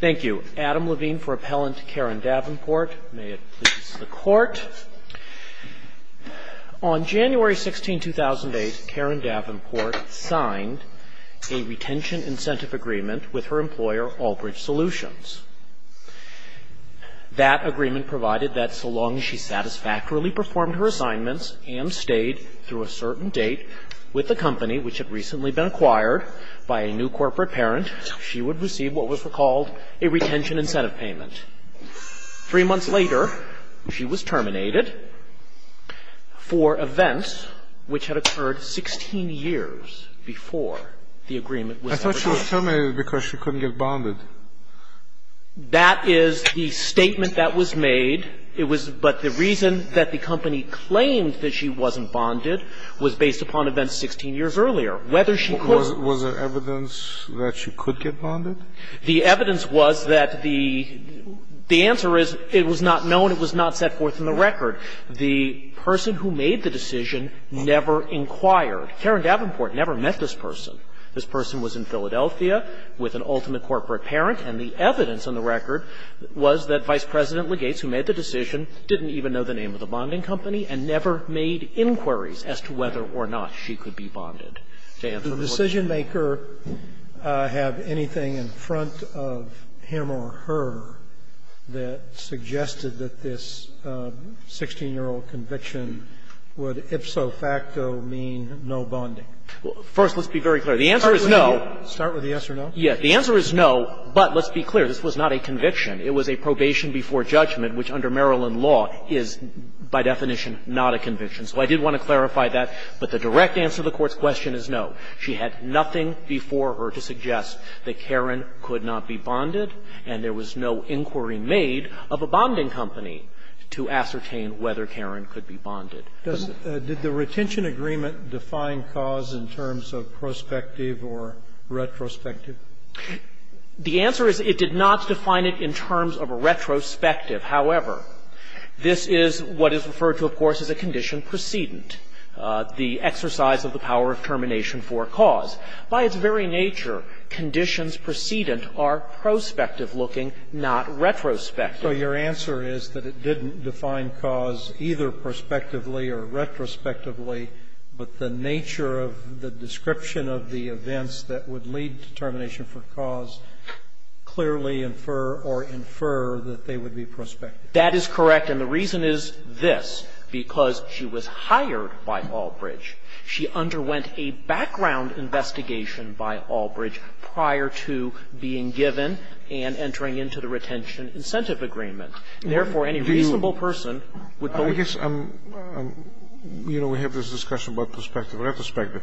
Thank you. Adam Levine for Appellant Karyn Davenport. May it please the Court. On January 16, 2008, Karyn Davenport signed a retention incentive agreement with her employer, Albridge Solutions. That agreement provided that so long as she satisfactorily performed her assignments and stayed through a certain date with the company, which had recently been acquired by a new corporate parent, she would receive what was recalled a retention incentive payment. Three months later, she was terminated for events which had occurred 16 years before the agreement was agreed. I thought she was terminated because she couldn't get bonded. That is the statement that was made. It was but the reason that the company claimed that she wasn't bonded was based upon events 16 years earlier. Whether she was Was there evidence that she could get bonded? The evidence was that the answer is it was not known. It was not set forth in the record. The person who made the decision never inquired. Karyn Davenport never met this person. This person was in Philadelphia with an ultimate corporate parent, and the evidence on the record was that Vice President Legates, who made the decision, didn't even know the name of the bonding company and never made inquiries as to whether or not she could be bonded. To answer the question. Scalia, did the decisionmaker have anything in front of him or her that suggested that this 16-year-old conviction would ipso facto mean no bonding? First, let's be very clear. The answer is no. Start with a yes or no. Yes. The answer is no, but let's be clear. This was not a conviction. It was a probation before judgment, which under Maryland law is, by definition, not a conviction. So I did want to clarify that. But the direct answer to the Court's question is no. She had nothing before her to suggest that Karyn could not be bonded, and there was no inquiry made of a bonding company to ascertain whether Karyn could be bonded. Did the retention agreement define cause in terms of prospective or retrospective? The answer is it did not define it in terms of a retrospective. However, this is what is referred to, of course, as a condition precedent, the exercise of the power of termination for cause. By its very nature, conditions precedent are prospective-looking, not retrospective. So your answer is that it didn't define cause either prospectively or retrospectively, but the nature of the description of the events that would lead to termination for cause clearly infer or infer that they would be prospective. That is correct. And the reason is this, because she was hired by Albridge. She underwent a background investigation by Albridge prior to being given and entering into the retention incentive agreement. Therefore, any reasonable person would go to her. I guess I'm, you know, we have this discussion about prospective or retrospective.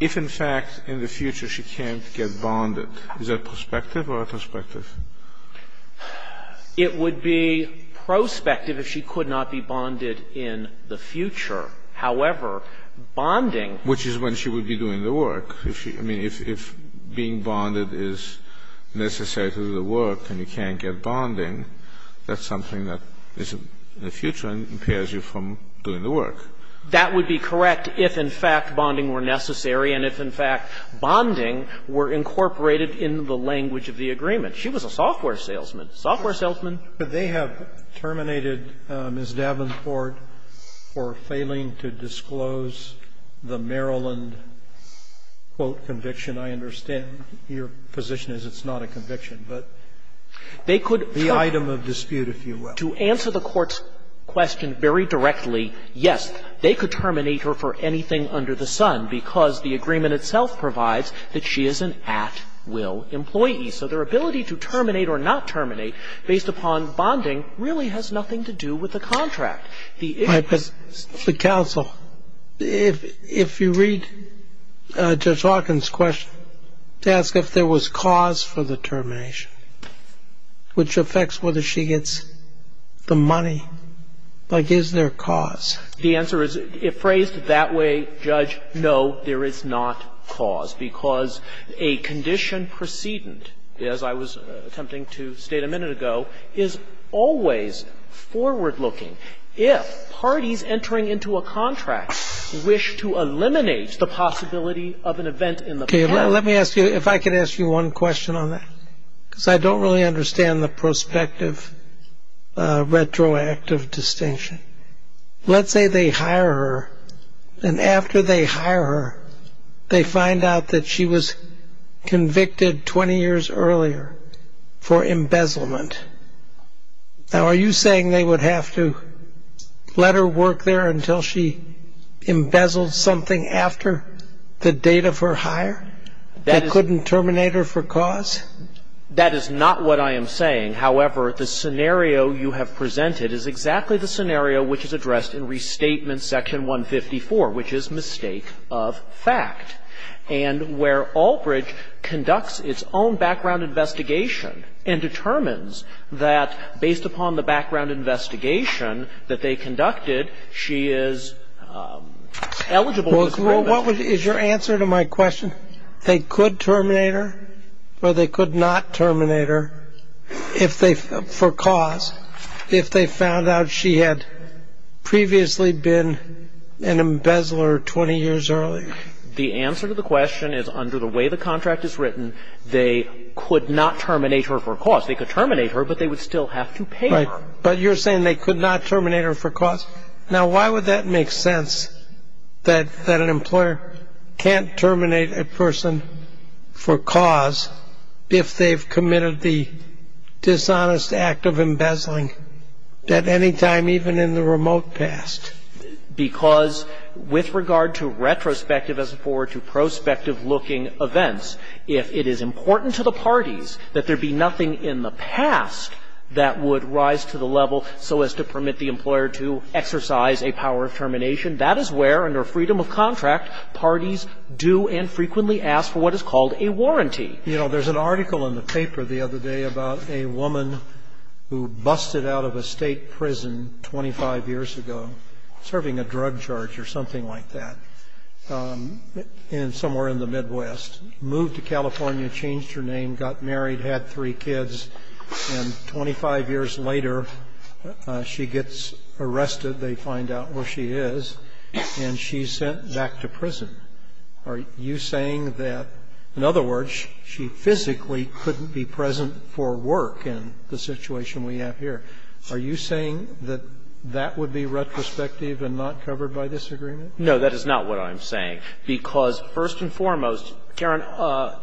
If, in fact, in the future she can't get bonded, is that prospective or retrospective? It would be prospective if she could not be bonded in the future. However, bonding Which is when she would be doing the work. I mean, if being bonded is necessary to the work and you can't get bonding, that's something that is in the future and impairs you from doing the work. That would be correct if, in fact, bonding were necessary and if, in fact, bonding were incorporated in the language of the agreement. She was a software salesman. Software salesman. But they have terminated Ms. Davenport for failing to disclose the Maryland, quote, conviction. I understand your position is it's not a conviction, but they could terminate her for the item of dispute, if you will. To answer the Court's question very directly, yes, they could terminate her for anything under the sun because the agreement itself provides that she is an at-will employee. So their ability to terminate or not terminate based upon bonding really has nothing to do with the contract. The issue is Right, but the counsel, if you read Judge Hawkins' question to ask if there was cause for the termination, which affects whether she gets the money, like, is there cause? The answer is, if phrased that way, Judge, no, there is not cause because a condition precedent, as I was attempting to state a minute ago, is always forward-looking. If parties entering into a contract wish to eliminate the possibility of an event in the past Let me ask you, if I could ask you one question on that, because I don't really understand the prospective retroactive distinction. Let's say they hire her, and after they hire her, they find out that she was convicted 20 years earlier for embezzlement. Now, are you saying they would have to let her work there until she embezzled something after the date of her hire that couldn't terminate her for cause? That is not what I am saying. However, the scenario you have presented is exactly the scenario which is addressed in Restatement Section 154, which is mistake of fact, and where Albridge conducts its own background investigation and determines that, based upon the background Well, what is your answer to my question? They could terminate her, or they could not terminate her, for cause, if they found out she had previously been an embezzler 20 years earlier? The answer to the question is, under the way the contract is written, they could not terminate her for cause. They could terminate her, but they would still have to pay her. But you're saying they could not terminate her for cause? Now, why would that make sense, that an employer can't terminate a person for cause if they've committed the dishonest act of embezzling at any time, even in the remote past? Because with regard to retrospective, as it were, to prospective-looking events, if it is important to the parties that there be nothing in the past that would rise to the level so as to permit the employer to exercise a power of termination, that is where, under freedom of contract, parties do and frequently ask for what is called a warranty. You know, there's an article in the paper the other day about a woman who busted out of a state prison 25 years ago, serving a drug charge or something like that, somewhere in the Midwest, moved to California, changed her name, got married, had three kids, and 25 years later, she gets arrested, they find out where she is, and she's sent back to prison. Are you saying that, in other words, she physically couldn't be present for work in the situation we have here? Are you saying that that would be retrospective and not covered by this agreement? No, that is not what I'm saying, because first and foremost, Karen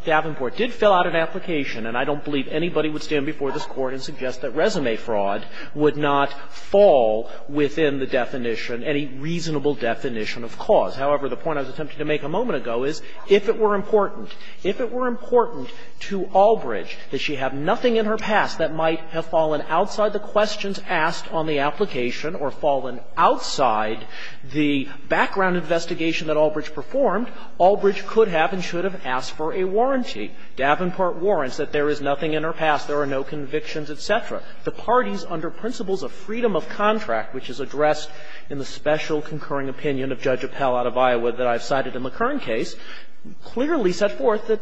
Davenport did fill out an application, and I don't believe anybody would stand before this that resume fraud would not fall within the definition, any reasonable definition of cause. However, the point I was attempting to make a moment ago is, if it were important to Albridge that she have nothing in her past that might have fallen outside the questions asked on the application or fallen outside the background investigation that Albridge performed, Albridge could have and should have asked for a warranty. Davenport warrants that there is nothing in her past. There are no convictions, et cetera. The parties, under principles of freedom of contract, which is addressed in the special concurring opinion of Judge Appell out of Iowa that I've cited in the current case, clearly set forth that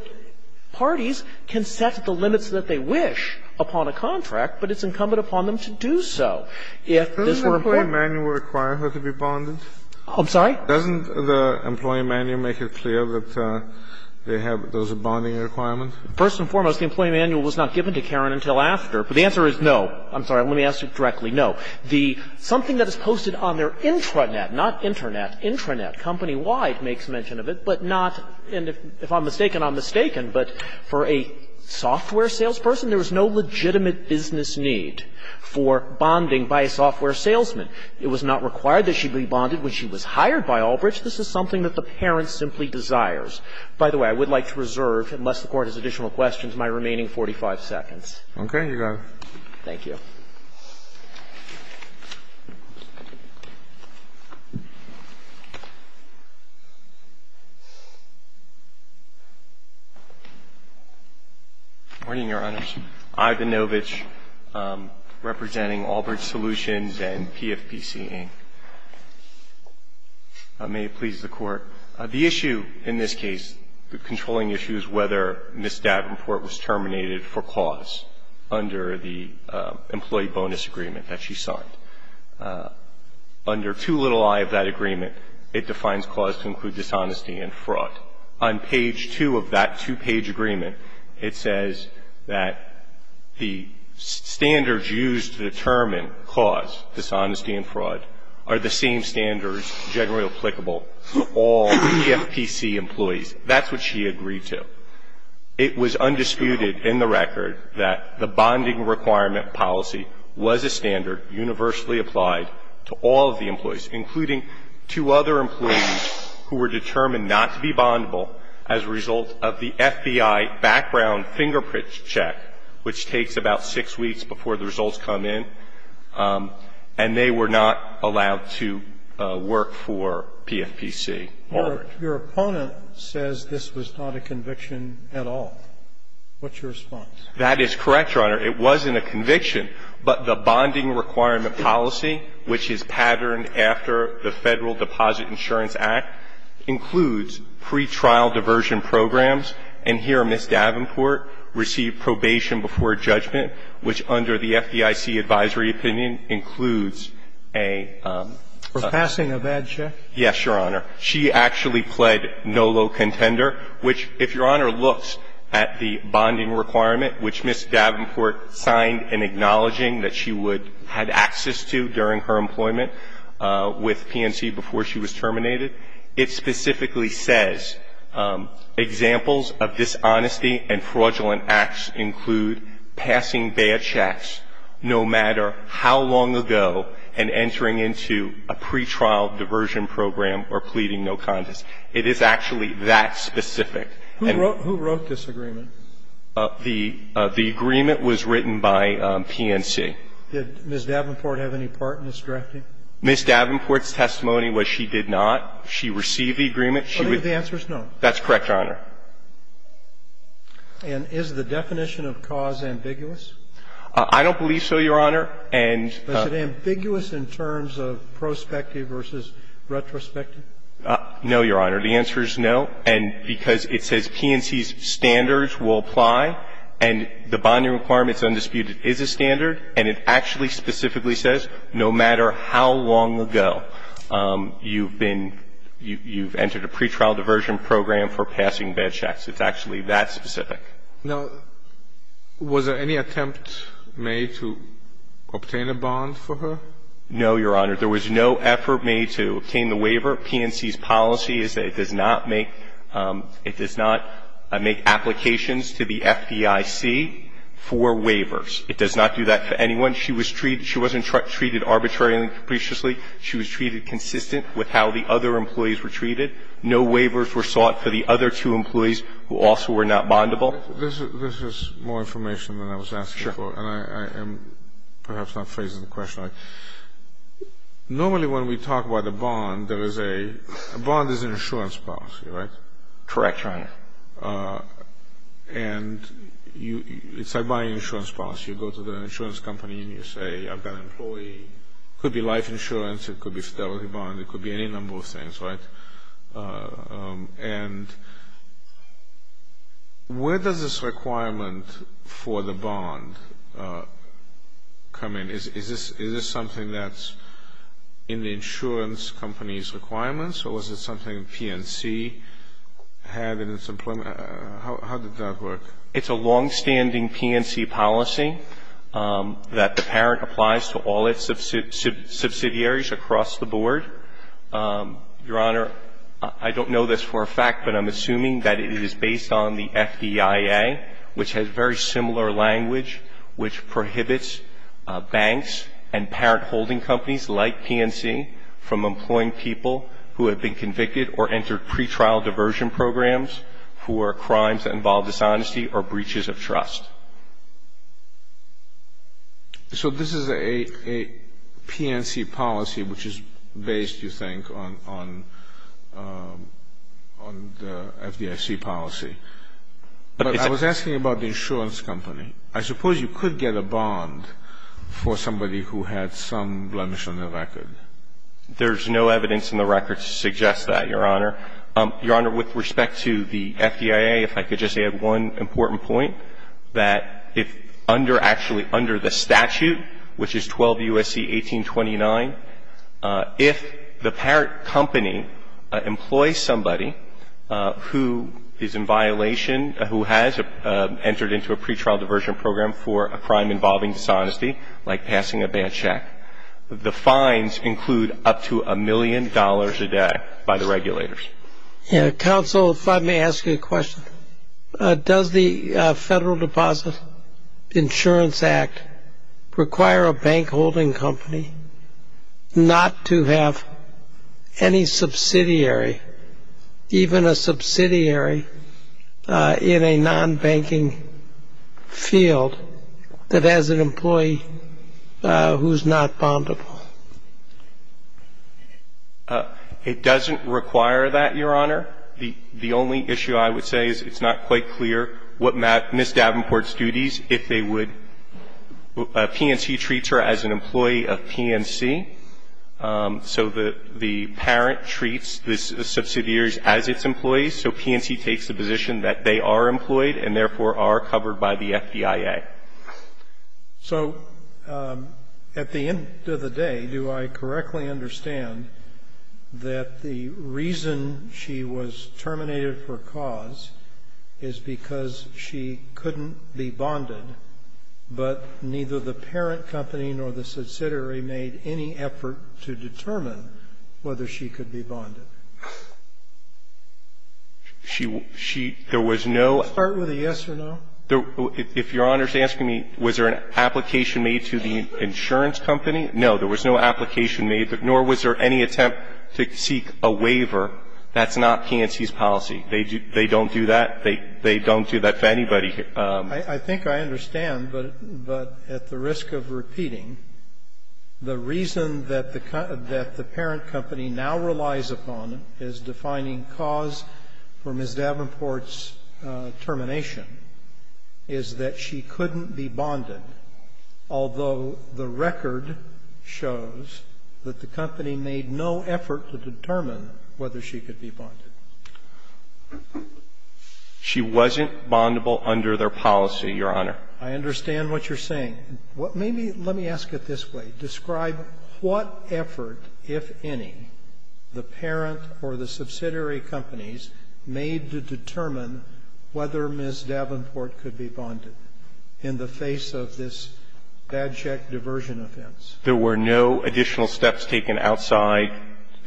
parties can set the limits that they wish upon a contract, but it's incumbent upon them to do so. If this were important to them. Doesn't the employee manual require her to be bonded? I'm sorry? Doesn't the employee manual make it clear that they have those bonding requirements? First and foremost, the employee manual was not given to Karen until after. But the answer is no. I'm sorry. Let me ask you directly. No. The – something that is posted on their intranet, not internet, intranet, company-wide makes mention of it, but not – and if I'm mistaken, I'm mistaken, but for a software salesperson, there is no legitimate business need for bonding by a software salesman. It was not required that she be bonded when she was hired by Albridge. This is something that the parent simply desires. By the way, I would like to reserve, unless the Court has additional questions, my remaining 45 seconds. Okay. You got it. Thank you. Good morning, Your Honors. Ivan Novich, representing Albridge Solutions and PFPC, Inc. May it please the Court. The issue in this case, the controlling issue, is whether Ms. Davenport was terminated for cause under the employee bonus agreement that she signed. Under 2.0i of that agreement, it defines cause to include dishonesty and fraud. On page 2 of that two-page agreement, it says that the standards used to determine dishonesty and fraud are the same standards generally applicable to all PFPC employees. That's what she agreed to. It was undisputed in the record that the bonding requirement policy was a standard universally applied to all of the employees, including two other employees who were determined not to be bondable as a result of the FBI background fingerprint check, which takes about six weeks before the results come in. And they were not allowed to work for PFPC. Your opponent says this was not a conviction at all. What's your response? That is correct, Your Honor. It wasn't a conviction, but the bonding requirement policy, which is patterned after the Federal Deposit Insurance Act, includes pretrial diversion programs. And here, Ms. Davenport received probation before judgment, which under the FDIC advisory opinion includes a ---- For passing a bad check? Yes, Your Honor. She actually pled no low contender, which, if Your Honor looks at the bonding requirement, which Ms. Davenport signed in acknowledging that she would had access to during her employment with PNC before she was terminated, it specifically says, examples of dishonesty and fraudulent acts include passing bad checks no matter how long ago and entering into a pretrial diversion program or pleading no contest. It is actually that specific. Who wrote this agreement? The agreement was written by PNC. Did Ms. Davenport have any part in this drafting? Ms. Davenport's testimony was she did not. She received the agreement. The answer is no. That's correct, Your Honor. And is the definition of cause ambiguous? I don't believe so, Your Honor, and ---- Is it ambiguous in terms of prospective versus retrospective? No, Your Honor. The answer is no, and because it says PNC's standards will apply, and the bonding requirement is undisputed is a standard, and it actually specifically says no matter how long ago you've been ---- you've entered a pretrial diversion program for passing bad checks. It's actually that specific. Now, was there any attempt made to obtain a bond for her? No, Your Honor. There was no effort made to obtain the waiver. PNC's policy is that it does not make applications to the FDIC for waivers. It does not do that for anyone. She was treated ---- she wasn't treated arbitrarily and capriciously. She was treated consistent with how the other employees were treated. No waivers were sought for the other two employees who also were not bondable. This is more information than I was asking for, and I am perhaps not phrasing the question right. Normally when we talk about a bond, there is a ---- a bond is an insurance policy, right? Correct, Your Honor. And you ---- it's like buying insurance policy. You go to the insurance company and you say, I've got an employee, it could be life insurance, it could be fidelity bond, it could be any number of things, right? And where does this requirement for the bond come in? Is this something that's in the insurance company's requirements, or was it something PNC had in its ---- how did that work? It's a longstanding PNC policy that the parent applies to all its subsidiaries across the board. Your Honor, I don't know this for a fact, but I'm assuming that it is based on the FDIA, which has very similar language, which prohibits banks and parent holding companies like PNC from employing people who have been convicted or entered pretrial diversion programs, who are crimes that involve dishonesty or breaches of trust. So this is a PNC policy, which is based, you think, on the FDIC policy. But I was asking about the insurance company. I suppose you could get a bond for somebody who had some blemish on their record. There's no evidence in the record to suggest that, Your Honor. Your Honor, with respect to the FDIA, if I could just add one important point, that if under, actually under the statute, which is 12 U.S.C. 1829, if the parent company employs somebody who is in violation, who has entered into a pretrial diversion program for a crime involving dishonesty, like passing a bad check, the fines include up to a million dollars a day by the regulators. Yeah, counsel, if I may ask you a question, does the Federal Deposit Insurance Act require a bank holding company not to have any subsidiary, even a subsidiary in a non-banking field, that has an employee who's not bondable? It doesn't require that, Your Honor. The only issue I would say is it's not quite clear what Ms. Davenport's duties if they would, PNC treats her as an employee of PNC. So the parent treats the subsidiaries as its employees, so PNC takes the position that they are employed and therefore are covered by the FBIA. So, at the end of the day, do I correctly understand that the reason she was terminated for cause is because she couldn't be bonded, but neither the parent company nor the subsidiary made any effort to determine whether she could be bonded? She was not. Start with a yes or no. If Your Honor is asking me, was there an application made to the insurance company, no, there was no application made, nor was there any attempt to seek a waiver. That's not PNC's policy. They don't do that. They don't do that for anybody. I think I understand, but at the risk of repeating, the reason that the parent company now relies upon as defining cause for Ms. Davenport's termination is that she couldn't be bonded, although the record shows that the company made no effort to determine whether she could be bonded. She wasn't bondable under their policy, Your Honor. I understand what you're saying. And maybe let me ask it this way. Describe what effort, if any, the parent or the subsidiary companies made to determine whether Ms. Davenport could be bonded in the face of this bad check diversion offense. There were no additional steps taken outside.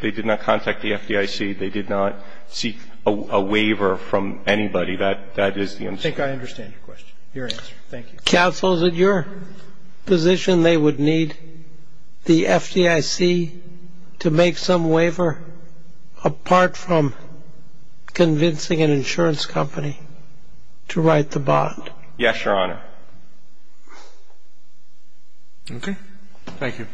They did not contact the FDIC. They did not seek a waiver from anybody. That is the answer. I think I understand your question, your answer. Thank you. Counsel, is it your position they would need the FDIC to make some waiver apart from convincing an insurance company to write the bond? Yes, Your Honor. OK. Thank you.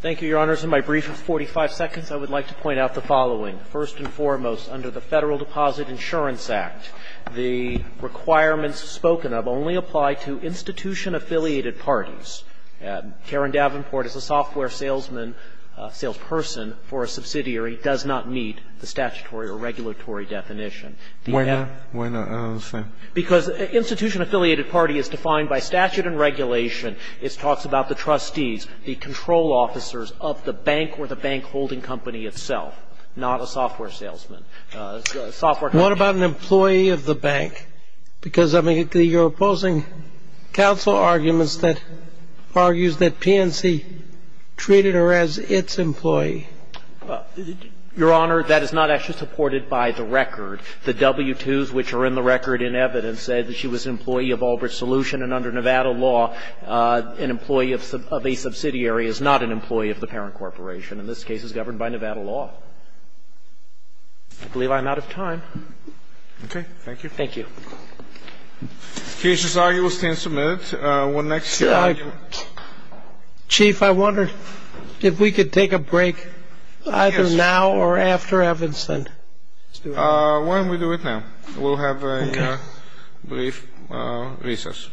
Thank you, Your Honors. In my brief of 45 seconds, I would like to point out the following. First and foremost, under the Federal Deposit Insurance Act, the requirements spoken of only apply to institution-affiliated parties. Karen Davenport is a software salesman, salesperson for a subsidiary. It does not meet the statutory or regulatory definition. Why not? Why not? I don't understand. Because institution-affiliated party is defined by statute and regulation. It talks about the trustees, the control officers of the bank or the bank holding company itself, not a software salesman, a software company. What about an employee of the bank? Because, I mean, you're opposing counsel arguments that argues that PNC treated her as its employee. Your Honor, that is not actually supported by the record. The W-2s, which are in the record in evidence, say that she was an employee of Albridge Solution, and under Nevada law, an employee of a subsidiary is not an employee of the parent corporation. In this case, it's governed by Nevada law. I believe I'm out of time. Okay. Thank you. Thank you. The case is argued. We'll stand submitted. Chief, I wonder if we could take a break either now or after Evans, then. Why don't we do it now? We'll have a brief recess. Thank you.